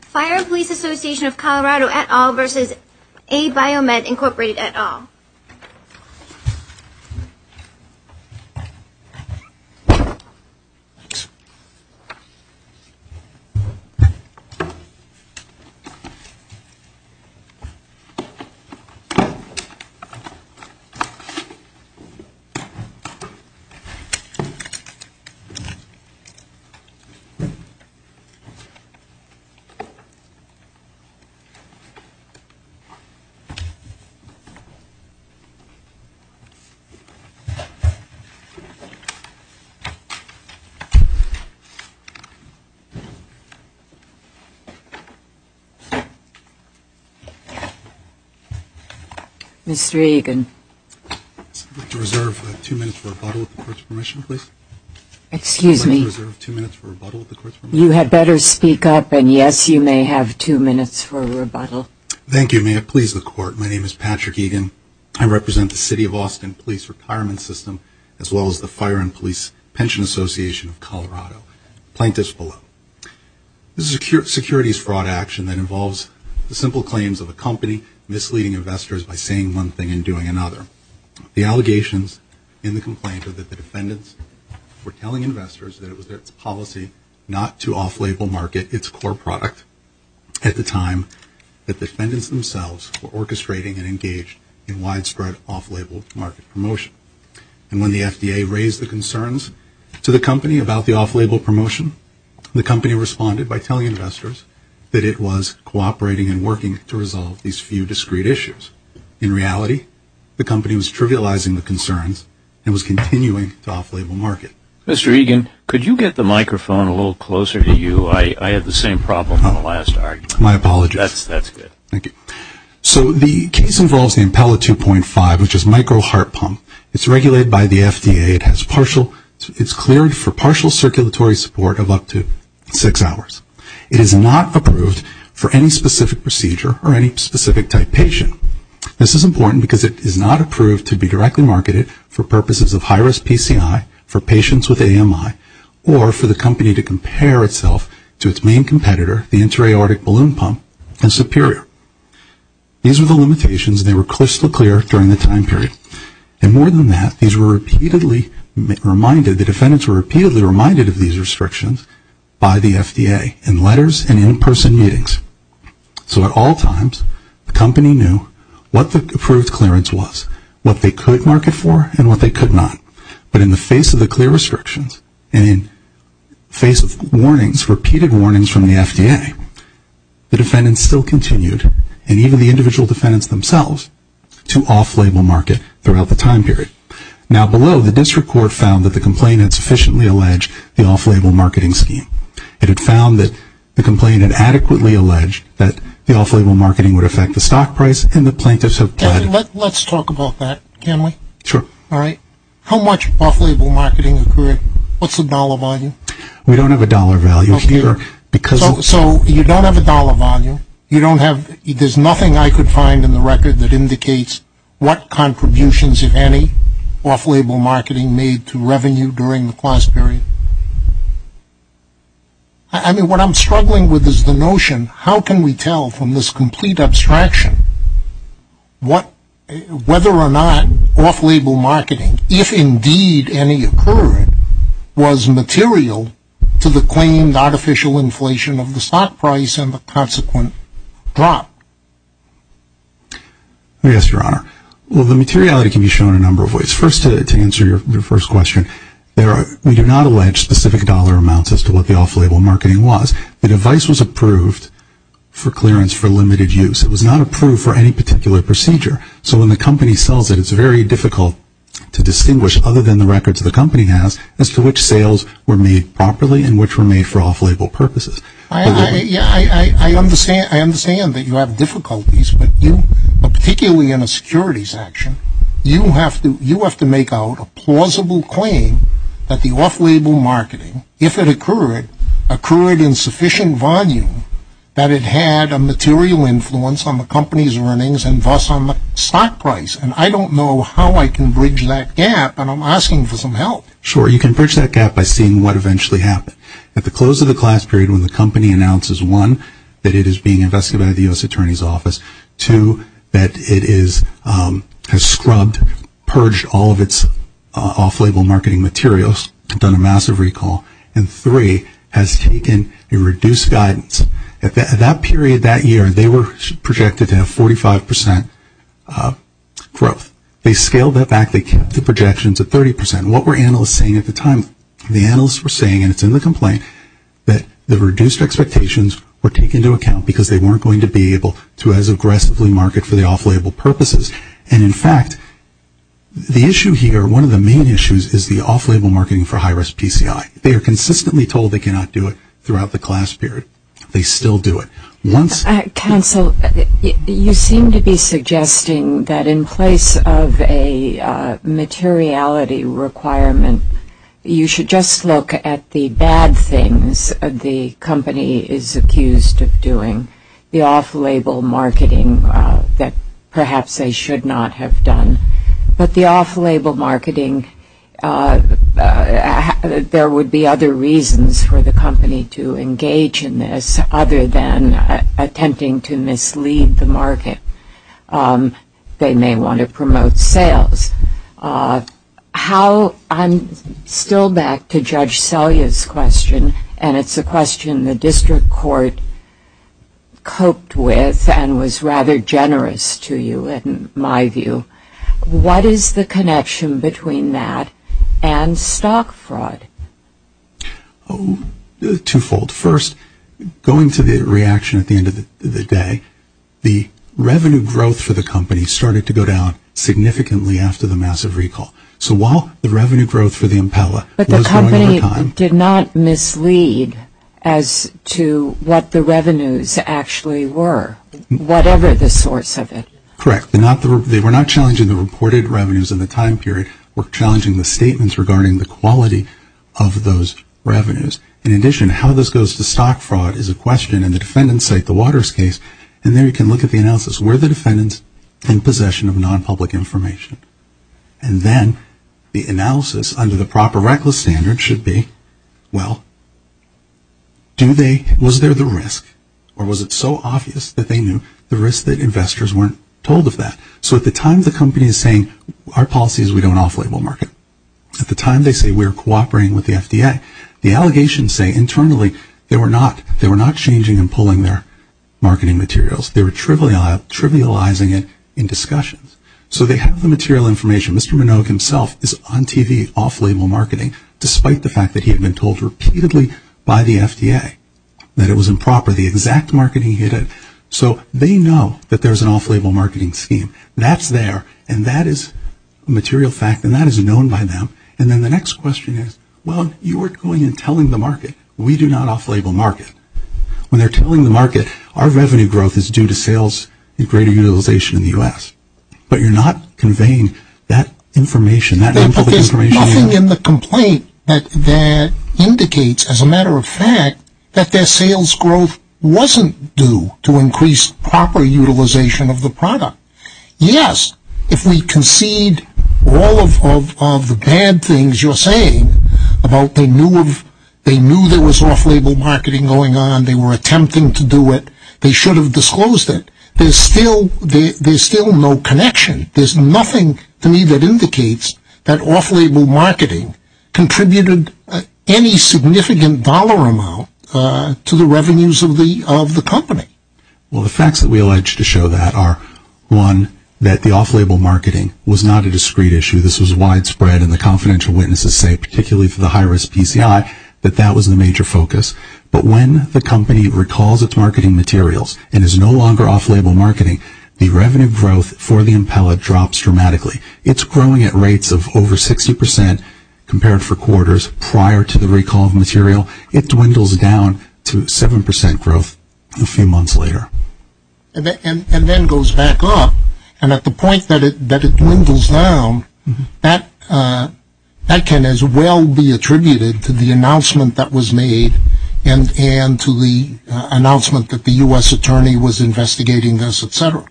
Fire and Police Association of Colorado et al. v. Abiomed, Inc. et al. Mr. Egan, I'd like to reserve two minutes for rebuttal at the Court's permission, please. Excuse me? You had better speak up, and yes, you may have two minutes for rebuttal. Thank you. May it please the Court, my name is Patrick Egan. I represent the City of Austin Police Retirement System as well as the Fire and Police Pension Association of Colorado. Plaintiffs below. This is a securities fraud action that involves the simple claims of a company misleading investors by saying one thing and doing another. The allegations in the complaint are that the defendants were telling investors that it was their policy not to off-label market its core product at the time that the defendants themselves were orchestrating and engaged in widespread off-label market promotion. And when the FDA raised the concerns to the company about the off-label promotion, the company responded by telling investors that it was cooperating and working to resolve these few discrete issues. In reality, the company was trivializing the concerns and was continuing to off-label market. Mr. Egan, could you get the microphone a little closer to you? I had the same problem in the last argument. My apologies. That's good. Thank you. So the case involves the Impella 2.5, which is micro heart pump. It's regulated by the FDA. It's cleared for partial circulatory support of up to six hours. It is not approved for any specific procedure or any specific type patient. This is important because it is not approved to be directly marketed for purposes of high-risk PCI, for patients with AMI, or for the company to compare itself to its main competitor, the interaortic balloon pump, and Superior. These were the limitations, and they were crystal clear during the time period. And more than that, these were repeatedly reminded, the defendants were repeatedly reminded of these restrictions by the FDA in letters and in-person meetings. So at all times, the company knew what the approved clearance was, what they could market for, and what they could not. But in the face of the clear restrictions and in face of warnings, repeated warnings from the FDA, the defendants still continued, and even the individual defendants themselves, to off-label market throughout the time period. Now, below, the district court found that the complaint had sufficiently alleged the off-label marketing scheme. It had found that the complaint had adequately alleged that the off-label marketing would affect the stock price, and the plaintiffs have pledged. Let's talk about that, can we? Sure. All right. How much off-label marketing occurred? What's the dollar value? We don't have a dollar value here. So you don't have a dollar value. You don't have, there's nothing I could find in the record that indicates what contributions, if any, off-label marketing made to revenue during the class period. I mean, what I'm struggling with is the notion, how can we tell from this complete abstraction, whether or not off-label marketing, if indeed any occurred, was material to the claimed artificial inflation of the stock price and the consequent drop? Yes, Your Honor. Well, the materiality can be shown in a number of ways. First, to answer your first question, we do not allege specific dollar amounts as to what the off-label marketing was. The device was approved for clearance for limited use. It was not approved for any particular procedure. So when the company sells it, it's very difficult to distinguish, other than the records the company has, as to which sales were made properly and which were made for off-label purposes. I understand that you have difficulties, but particularly in a securities action, you have to make out a plausible claim that the off-label marketing, if it occurred, occurred in sufficient volume that it had a material influence on the company's earnings and thus on the stock price. And I don't know how I can bridge that gap, and I'm asking for some help. Sure, you can bridge that gap by seeing what eventually happened. At the close of the class period, when the company announces, one, that it is being investigated by the U.S. Attorney's Office, two, that it has scrubbed, purged all of its off-label marketing materials, done a massive recall, and three, has taken a reduced guidance. At that period, that year, they were projected to have 45% growth. They scaled that back. They kept the projections at 30%. And what were analysts saying at the time? The analysts were saying, and it's in the complaint, that the reduced expectations were taken into account because they weren't going to be able to as aggressively market for the off-label purposes. And, in fact, the issue here, one of the main issues, is the off-label marketing for high-risk PCI. They are consistently told they cannot do it throughout the class period. They still do it. Counsel, you seem to be suggesting that in place of a materiality requirement, you should just look at the bad things the company is accused of doing, the off-label marketing that perhaps they should not have done. But the off-label marketing, there would be other reasons for the company to engage in this other than attempting to mislead the market. They may want to promote sales. I'm still back to Judge Selye's question, and it's a question the district court coped with and was rather generous to you, in my view. What is the connection between that and stock fraud? Two-fold. First, going to the reaction at the end of the day, the revenue growth for the company started to go down significantly after the massive recall. So while the revenue growth for the Impella was going over time. But the company did not mislead as to what the revenues actually were, whatever the source of it. Correct. They were not challenging the reported revenues in the time period. They were challenging the statements regarding the quality of those revenues. In addition, how this goes to stock fraud is a question in the defendant's site, the Waters case. And there you can look at the analysis. Were the defendants in possession of non-public information? And then the analysis under the proper reckless standard should be, well, was there the risk? Or was it so obvious that they knew the risk that investors weren't told of that? So at the time the company is saying, our policy is we don't off-label market. At the time they say we're cooperating with the FDA. The allegations say internally they were not changing and pulling their marketing materials. They were trivializing it in discussions. So they have the material information. Mr. Minogue himself is on TV, off-label marketing, despite the fact that he had been told repeatedly by the FDA that it was improper, the exact marketing he did. So they know that there's an off-label marketing scheme. That's there. And that is a material fact. And that is known by them. And then the next question is, well, you weren't going and telling the market, we do not off-label market. When they're telling the market, our revenue growth is due to sales and greater utilization in the U.S. But you're not conveying that information. That their sales growth wasn't due to increased proper utilization of the product. Yes, if we concede all of the bad things you're saying about they knew there was off-label marketing going on, they were attempting to do it, they should have disclosed it. There's still no connection. There's nothing to me that indicates that off-label marketing contributed any significant dollar amount to the revenues of the company. Well, the facts that we allege to show that are, one, that the off-label marketing was not a discreet issue. This was widespread and the confidential witnesses say, particularly for the high-risk PCI, that that was the major focus. But when the company recalls its marketing materials and is no longer off-label marketing, the revenue growth for the impella drops dramatically. It's growing at rates of over 60% compared for quarters prior to the recall of material. It dwindles down to 7% growth a few months later. And then goes back up. And at the point that it dwindles down, that can as well be attributed to the announcement that was made and to the announcement that the U.S. attorney was investigating this, etc.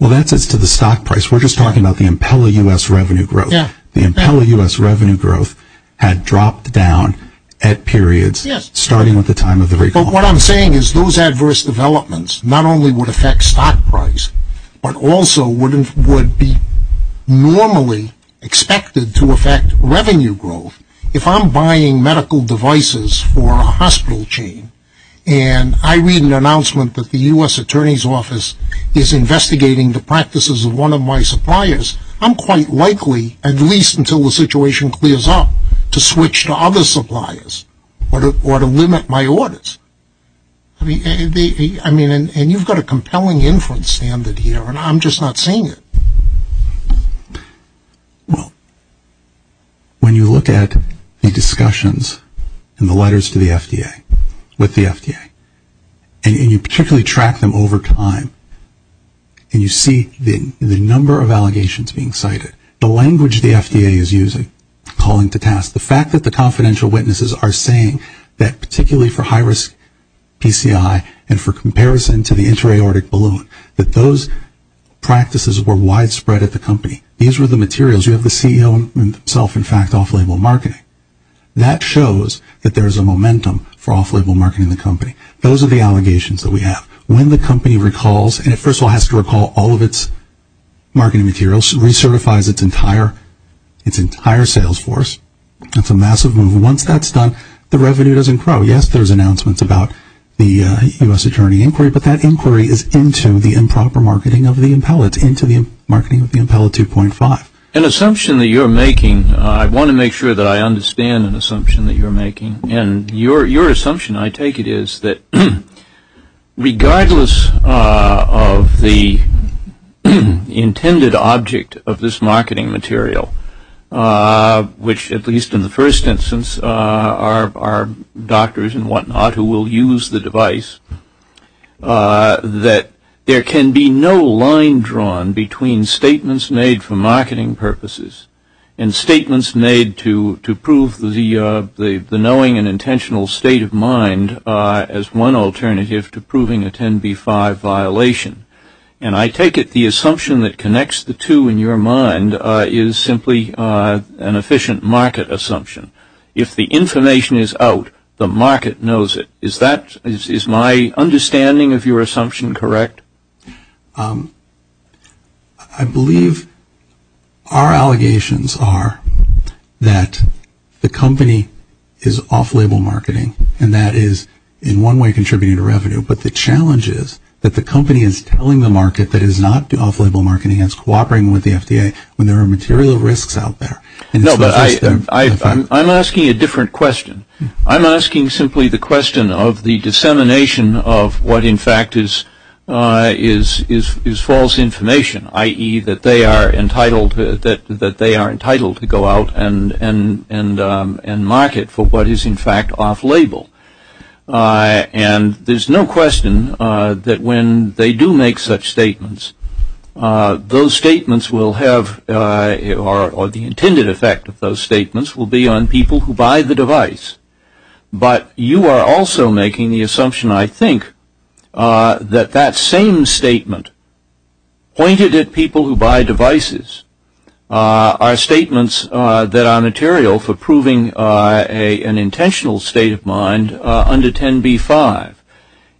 Well, that's as to the stock price. We're just talking about the impella U.S. revenue growth. The impella U.S. revenue growth had dropped down at periods starting with the time of the recall. What I'm saying is those adverse developments not only would affect stock price, but also would be normally expected to affect revenue growth. If I'm buying medical devices for a hospital chain and I read an announcement that the U.S. attorney's office is investigating the practices of one of my suppliers, I'm quite likely, at least until the situation clears up, to switch to other suppliers or to limit my orders. I mean, and you've got a compelling inference standard here, and I'm just not seeing it. Well, when you look at the discussions and the letters to the FDA, with the FDA, and you particularly track them over time, and you see the number of allegations being cited, the language the FDA is using, calling to task, the fact that the confidential witnesses are saying that particularly for high-risk PCI and for comparison to the intra-aortic balloon, that those practices were widespread at the company. These were the materials. You have the CEO himself, in fact, off-label marketing. That shows that there's a momentum for off-label marketing in the company. Those are the allegations that we have. When the company recalls, and it first of all has to recall all of its marketing materials, recertifies its entire sales force, that's a massive move. Once that's done, the revenue doesn't grow. Yes, there's announcements about the U.S. attorney inquiry, but that inquiry is into the improper marketing of the Impella 2.5. An assumption that you're making, I want to make sure that I understand an assumption that you're making, and your assumption, I take it, is that regardless of the intended object of this marketing material, which at least in the first instance are doctors and whatnot who will use the device, that there can be no line drawn between statements made for marketing purposes and statements made to prove the knowing and intentional state of mind as one alternative to proving a 10b-5 violation. I take it the assumption that connects the two in your mind is simply an efficient market assumption. If the information is out, the market knows it. Is my understanding of your assumption correct? I believe our allegations are that the company is off-label marketing, but the challenge is that the company is telling the market that it is not off-label marketing. It's cooperating with the FDA when there are material risks out there. No, but I'm asking a different question. I'm asking simply the question of the dissemination of what, in fact, is false information, i.e., that they are entitled to go out and market for what is, in fact, off-label. And there's no question that when they do make such statements, those statements will have or the intended effect of those statements will be on people who buy the device. But you are also making the assumption, I think, that that same statement pointed at people who buy devices are statements that are material for proving an intentional state of mind under 10b-5.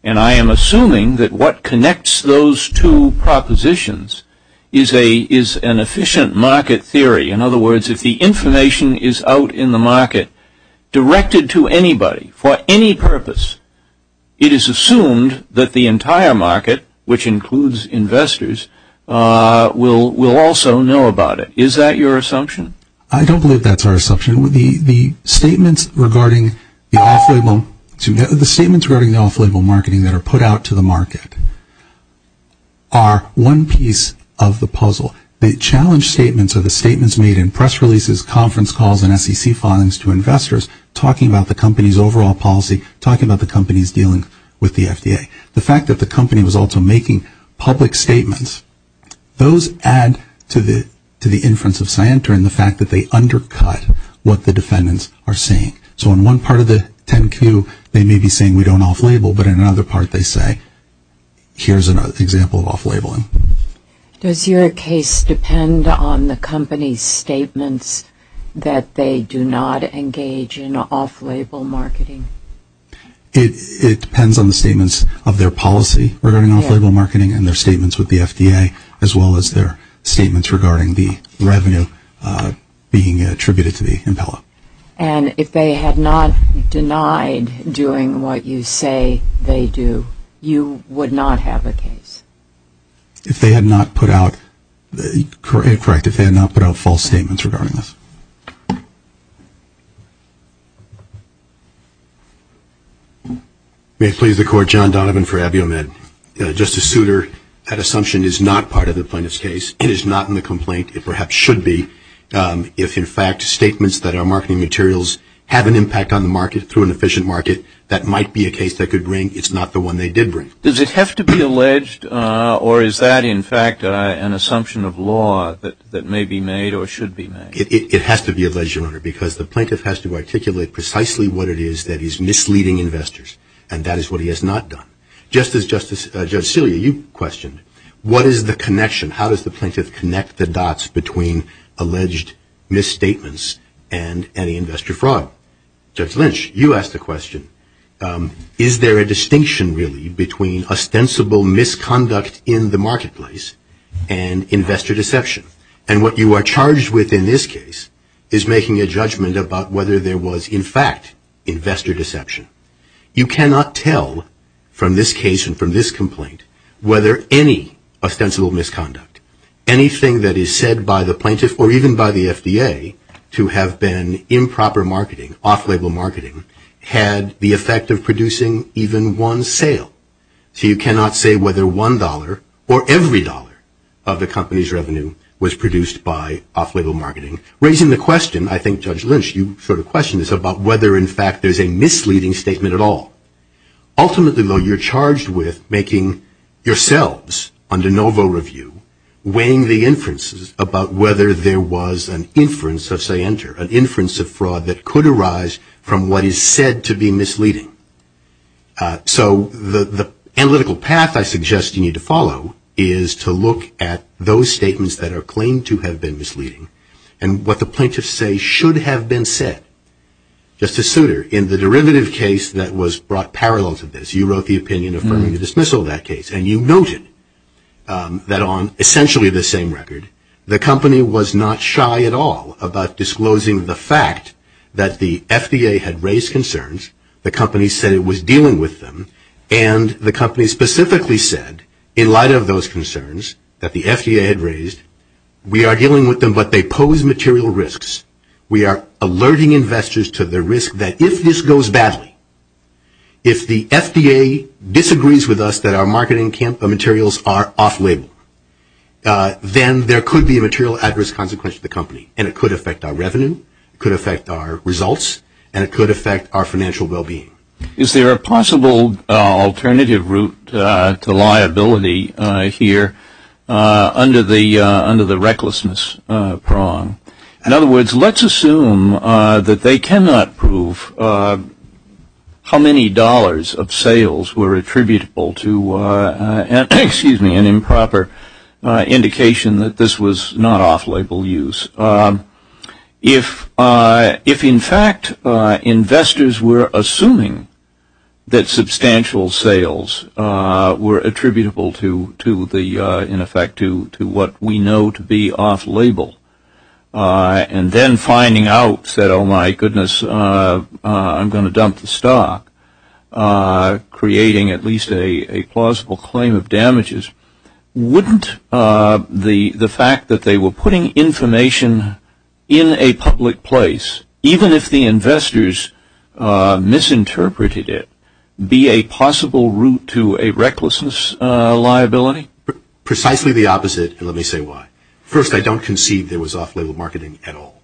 And I am assuming that what connects those two propositions is an efficient market theory. In other words, if the information is out in the market directed to anybody for any purpose, it is assumed that the entire market, which includes investors, will also know about it. Is that your assumption? I don't believe that's our assumption. The statements regarding the off-label marketing that are put out to the market are one piece of the puzzle. The challenge statements are the statements made in press releases, conference calls, and SEC filings to investors talking about the company's overall policy, talking about the company's dealing with the FDA. The fact that the company was also making public statements, those add to the inference of Scienter in the fact that they undercut what the defendants are saying. So in one part of the 10Q, they may be saying we don't off-label, but in another part they say, here's an example of off-labeling. Does your case depend on the company's statements that they do not engage in off-label marketing? It depends on the statements of their policy regarding off-label marketing and their statements with the FDA, as well as their statements regarding the revenue being attributed to the impella. And if they had not denied doing what you say they do, you would not have a case? If they had not put out, correct, if they had not put out false statements regarding this. May it please the Court, John Donovan for AbioMed. Justice Souter, that assumption is not part of the plaintiff's case. It is not in the complaint. It perhaps should be. If, in fact, statements that are marketing materials have an impact on the market through an efficient market, that might be a case they could bring. It's not the one they did bring. Does it have to be alleged, or is that, in fact, an assumption of law that may be made or should be made? It has to be alleged, Your Honor, because the plaintiff has to articulate precisely what it is that is misleading investors, and that is what he has not done. Just as Judge Celia, you questioned, what is the connection? How does the plaintiff connect the dots between alleged misstatements and any investor fraud? Well, Judge Lynch, you asked the question, is there a distinction really between ostensible misconduct in the marketplace and investor deception? And what you are charged with in this case is making a judgment about whether there was, in fact, investor deception. You cannot tell from this case and from this complaint whether any ostensible misconduct, anything that is said by the plaintiff or even by the FDA to have been improper marketing, off-label marketing, had the effect of producing even one sale. So you cannot say whether one dollar or every dollar of the company's revenue was produced by off-label marketing, raising the question, I think, Judge Lynch, you sort of questioned this, about whether, in fact, there is a misleading statement at all. Ultimately, though, you are charged with making yourselves, under no vote review, weighing the inferences about whether there was an inference of say-enter, an inference of fraud that could arise from what is said to be misleading. So the analytical path I suggest you need to follow is to look at those statements that are claimed to have been misleading and what the plaintiffs say should have been said. Justice Souter, in the derivative case that was brought parallel to this, you wrote the opinion affirming the dismissal of that case, and you noted that on essentially the same record, the company was not shy at all about disclosing the fact that the FDA had raised concerns, the company said it was dealing with them, and the company specifically said, in light of those concerns that the FDA had raised, we are dealing with them, but they pose material risks. We are alerting investors to the risk that if this goes badly, if the FDA disagrees with us that our marketing materials are off-label, then there could be a material adverse consequence to the company, and it could affect our revenue, it could affect our results, and it could affect our financial well-being. Is there a possible alternative route to liability here under the recklessness prong? In other words, let's assume that they cannot prove how many dollars of sales were attributable to, excuse me, an improper indication that this was not off-label use. If, in fact, investors were assuming that substantial sales were attributable to the, in effect, to what we know to be off-label, and then finding out, said, oh, my goodness, I'm going to dump the stock, creating at least a plausible claim of damages, wouldn't the fact that they were putting information in a public place, even if the investors misinterpreted it, be a possible route to a recklessness liability? Precisely the opposite, and let me say why. First, I don't conceive there was off-label marketing at all.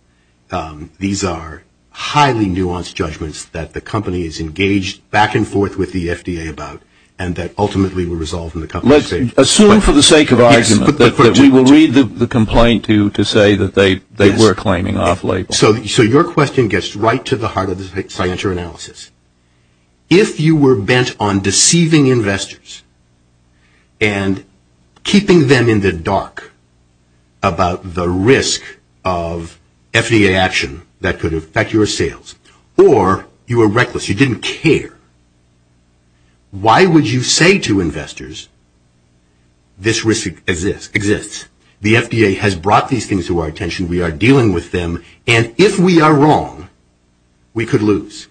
These are highly nuanced judgments that the company is engaged back and forth with the FDA about, and that ultimately were resolved in the company's favor. Let's assume for the sake of argument that we will read the complaint to say that they were claiming off-label. So your question gets right to the heart of the scienter analysis. If you were bent on deceiving investors and keeping them in the dark about the risk of FDA action that could affect your sales, or you were reckless, you didn't care, why would you say to investors this risk exists? The FDA has brought these things to our attention. We are dealing with them, and if we are wrong, we could lose.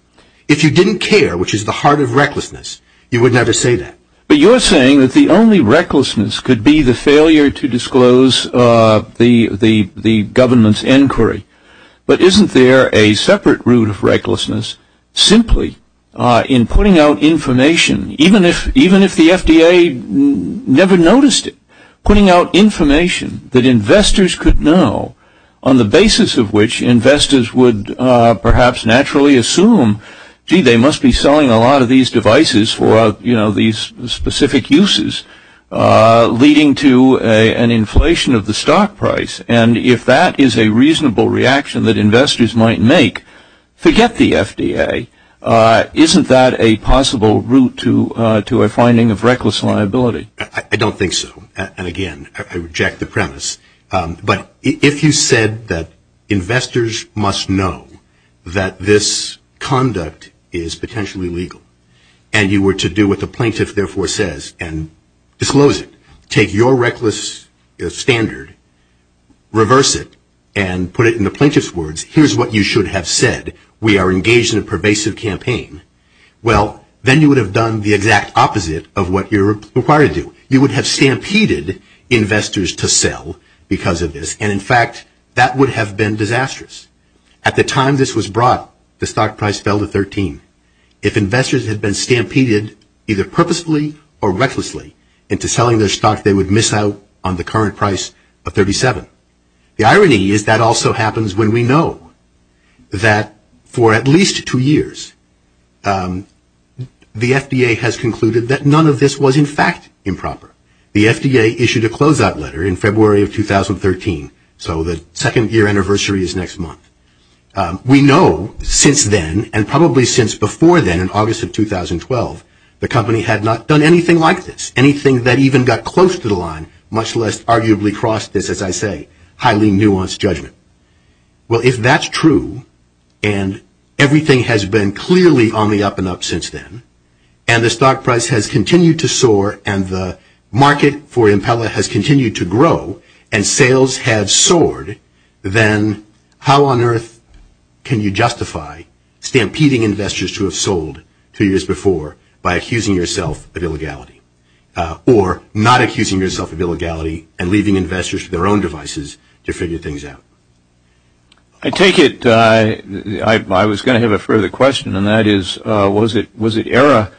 If you didn't care, which is the heart of recklessness, you would never say that. But you're saying that the only recklessness could be the failure to disclose the government's inquiry, but isn't there a separate route of recklessness simply in putting out information, even if the FDA never noticed it, putting out information that investors could know, on the basis of which investors would perhaps naturally assume, gee, they must be selling a lot of these devices for these specific uses, leading to an inflation of the stock price. And if that is a reasonable reaction that investors might make, forget the FDA, isn't that a possible route to a finding of reckless liability? I don't think so. And again, I reject the premise. But if you said that investors must know that this conduct is potentially legal, and you were to do what the plaintiff therefore says and disclose it, take your reckless standard, reverse it, and put it in the plaintiff's words, here's what you should have said, we are engaged in a pervasive campaign, well, then you would have done the exact opposite of what you're required to do. You would have stampeded investors to sell because of this, and in fact, that would have been disastrous. At the time this was brought, the stock price fell to 13. If investors had been stampeded either purposefully or recklessly into selling their stock, they would miss out on the current price of 37. The irony is that also happens when we know that for at least two years, the FDA has concluded that none of this was in fact improper. The FDA issued a closeout letter in February of 2013, so the second year anniversary is next month. We know since then, and probably since before then, in August of 2012, the company had not done anything like this, anything that even got close to the line, much less arguably crossed this, as I say, highly nuanced judgment. Well, if that's true, and everything has been clearly on the up and up since then, and the stock price has continued to soar and the market for Impella has continued to grow, and sales have soared, then how on earth can you justify stampeding investors to have sold two years before by accusing yourself of illegality, or not accusing yourself of illegality and leaving investors with their own devices to figure things out? I take it, I was going to have a further question, and that is, was it error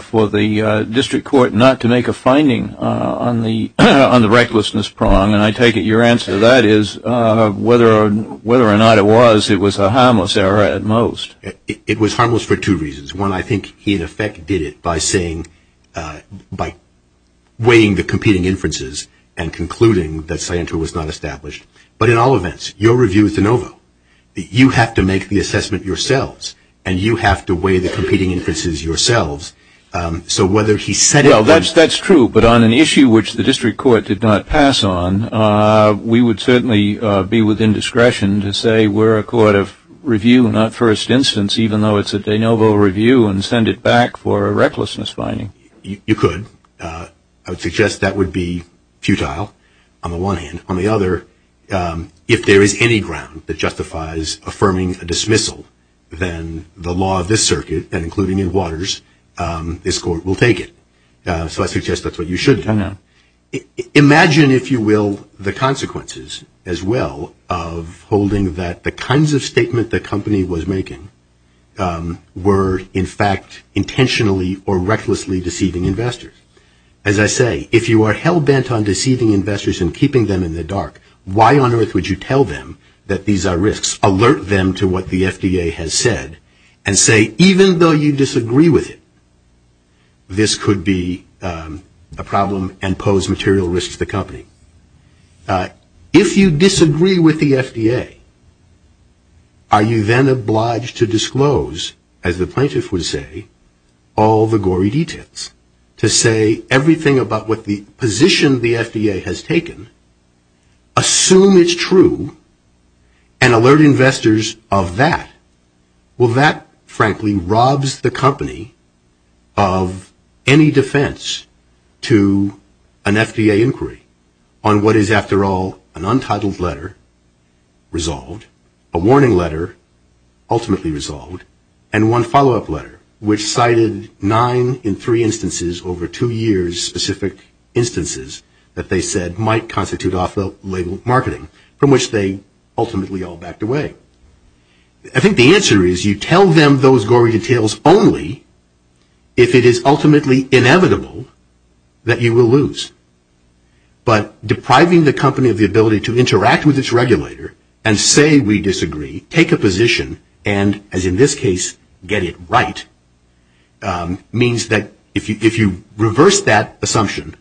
for the district court not to make a finding on the recklessness prong? And I take it your answer to that is, whether or not it was, it was a harmless error at most. It was harmless for two reasons. One, I think he, in effect, did it by saying, by weighing the competing inferences and concluding that Sciento was not established. But in all events, your review is de novo. You have to make the assessment yourselves, and you have to weigh the competing inferences yourselves. So whether he said it or not. Well, that's true, but on an issue which the district court did not pass on, we would certainly be within discretion to say we're a court of review, not first instance, even though it's a de novo review, and send it back for a recklessness finding. You could. I would suggest that would be futile, on the one hand. On the other, if there is any ground that justifies affirming a dismissal, then the law of this circuit, and including in Waters, this court will take it. So I suggest that's what you should do. I know. Imagine, if you will, the consequences as well of holding that the kinds of statement the company was making were, in fact, intentionally or recklessly deceiving investors. As I say, if you are hell-bent on deceiving investors and keeping them in the dark, why on earth would you tell them that these are risks, alert them to what the FDA has said, and say even though you disagree with it, this could be a problem and pose material risks to the company. If you disagree with the FDA, are you then obliged to disclose, as the plaintiff would say, all the gory details, to say everything about what the position the FDA has taken, assume it's true, and alert investors of that? Well, that, frankly, robs the company of any defense to an FDA inquiry on what is, after all, an untitled letter resolved, a warning letter ultimately resolved, and one follow-up letter, which cited nine in three instances over two years specific instances that they said might constitute off-the-label marketing, from which they ultimately all backed away. I think the answer is you tell them those gory details only if it is ultimately inevitable that you will lose. But depriving the company of the ability to interact with its regulator and say we disagree, take a position, and as in this case, get it right, means that if you reverse that assumption,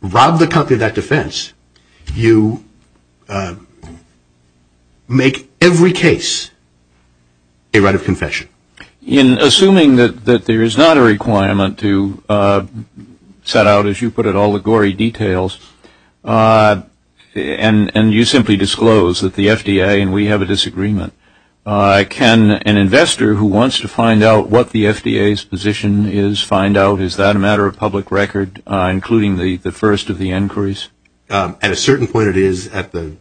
rob the company of that defense, you make every case a right of confession. In assuming that there is not a requirement to set out, as you put it, all the gory details, and you simply disclose that the FDA and we have a disagreement, can an investor who wants to find out what the FDA's position is find out, is that a matter of public record, including the first of the inquiries? At a certain point, it is. At the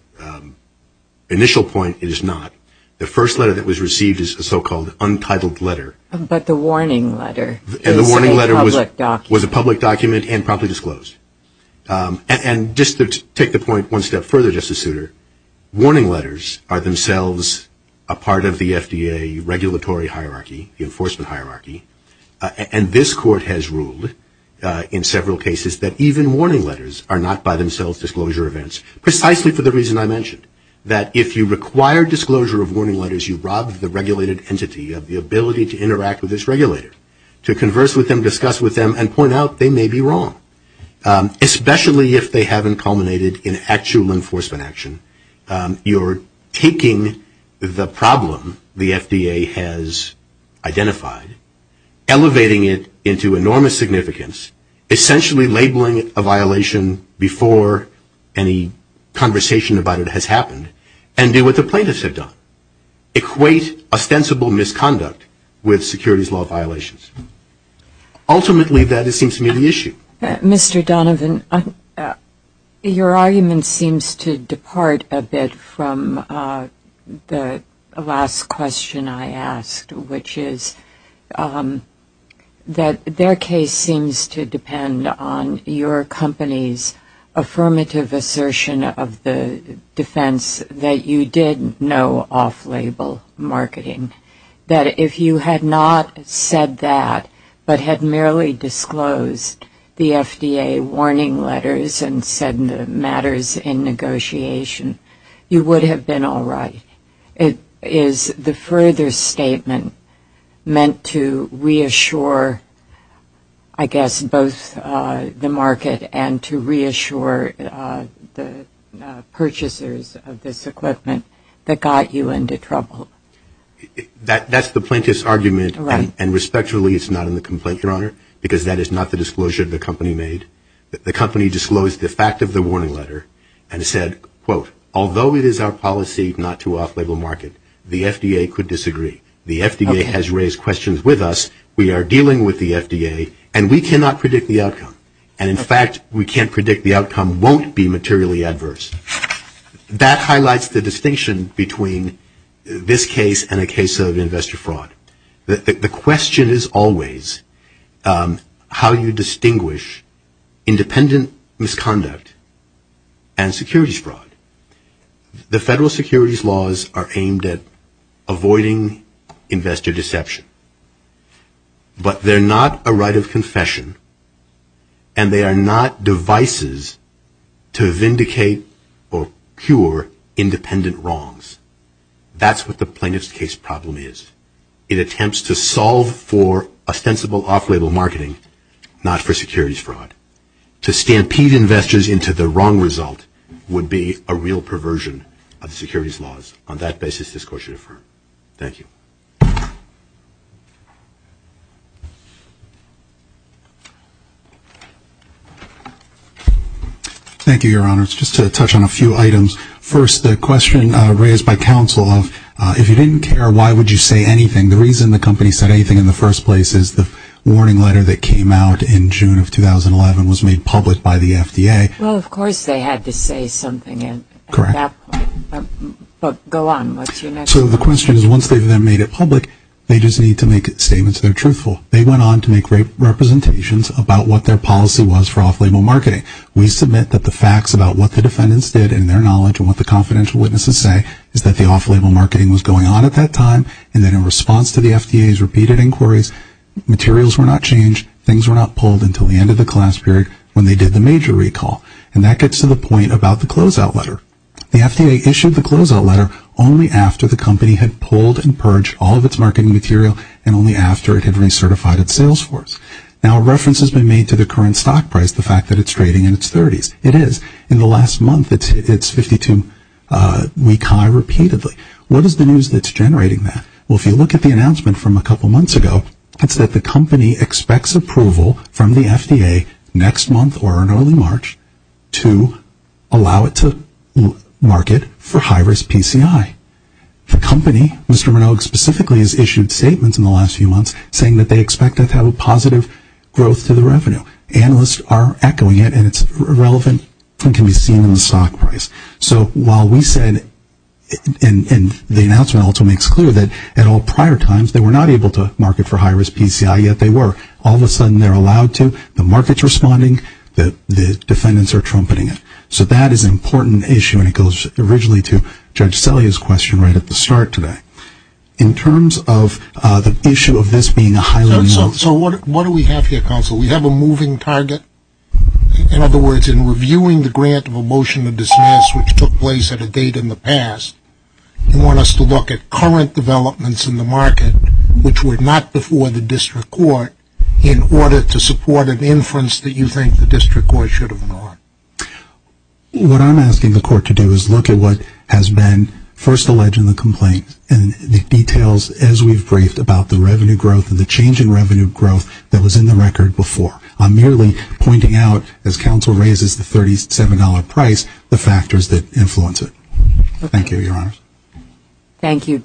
initial point, it is not. The first letter that was received is a so-called untitled letter. But the warning letter is a public document. The warning letter was a public document and promptly disclosed. And just to take the point one step further, Justice Souter, warning letters are themselves a part of the FDA regulatory hierarchy, the enforcement hierarchy, and this Court has ruled in several cases that even warning letters are not by themselves disclosure events, precisely for the reason I mentioned, that if you require disclosure of warning letters, you rob the regulated entity of the ability to interact with this regulator, to converse with them, discuss with them, and point out they may be wrong, especially if they haven't culminated in actual enforcement action. You're taking the problem the FDA has identified, elevating it into enormous significance, essentially labeling it a violation before any conversation about it has happened, and do what the plaintiffs have done, equate ostensible misconduct with securities law violations. Ultimately, that seems to me the issue. Mr. Donovan, your argument seems to depart a bit from the last question I asked, which is that their case seems to depend on your company's affirmative assertion of the defense that you did no off-label marketing, that if you had not said that, but had merely disclosed the FDA warning letters and said the matters in negotiation, you would have been all right. Is the further statement meant to reassure, I guess, both the market and to reassure the purchasers of this equipment that got you into trouble? That's the plaintiff's argument, and respectfully it's not in the complaint, Your Honor, because that is not the disclosure the company made. The company disclosed the fact of the warning letter and said, quote, although it is our policy not to off-label market, the FDA could disagree. The FDA has raised questions with us. We are dealing with the FDA, and we cannot predict the outcome. And, in fact, we can't predict the outcome won't be materially adverse. That highlights the distinction between this case and a case of investor fraud. The question is always how you distinguish independent misconduct and securities fraud. The federal securities laws are aimed at avoiding investor deception, but they're not a right of confession, and they are not devices to vindicate or cure independent wrongs. That's what the plaintiff's case problem is. It attempts to solve for ostensible off-label marketing, not for securities fraud. To stampede investors into the wrong result would be a real perversion of securities laws. On that basis, this Court should affirm. Thank you. Thank you, Your Honor. Just to touch on a few items. First, the question raised by counsel of if you didn't care, why would you say anything? The reason the company said anything in the first place is the warning letter that came out in June of 2011 was made public by the FDA. Well, of course they had to say something at that point. Correct. But go on. What's your next point? So the question is once they've then made it public, they just need to make statements that are truthful. They went on to make representations about what their policy was for off-label marketing. We submit that the facts about what the defendants did in their knowledge and what the confidential witnesses say is that the off-label marketing was going on at that time and that in response to the FDA's repeated inquiries, materials were not changed, things were not pulled until the end of the class period when they did the major recall. And that gets to the point about the closeout letter. The FDA issued the closeout letter only after the company had pulled and purged all of its marketing material and only after it had recertified its sales force. Now, a reference has been made to the current stock price, the fact that it's trading in its 30s. It is. In the last month, it's 52 week high repeatedly. What is the news that's generating that? Well, if you look at the announcement from a couple months ago, it's that the company expects approval from the FDA next month or in early March to allow it to market for high-risk PCI. The company, Mr. Minogue specifically, has issued statements in the last few months saying that they expect to have a positive growth to the revenue. Analysts are echoing it, and it's relevant and can be seen in the stock price. So while we said, and the announcement also makes clear that at all prior times, they were not able to market for high-risk PCI, yet they were. All of a sudden, they're allowed to. The market's responding. The defendants are trumpeting it. So that is an important issue, and it goes originally to Judge Selye's question right at the start today. In terms of the issue of this being a highly- So what do we have here, Counsel? We have a moving target. In other words, in reviewing the grant of a motion to dismiss, which took place at a date in the past, you want us to look at current developments in the market, which were not before the district court, in order to support an inference that you think the district court should have ignored. What I'm asking the court to do is look at what has been first alleged in the complaint and the details as we've briefed about the revenue growth and the change in revenue growth that was in the record before. I'm merely pointing out, as Counsel raises the $37 price, the factors that influence it. Thank you, Your Honors. Thank you.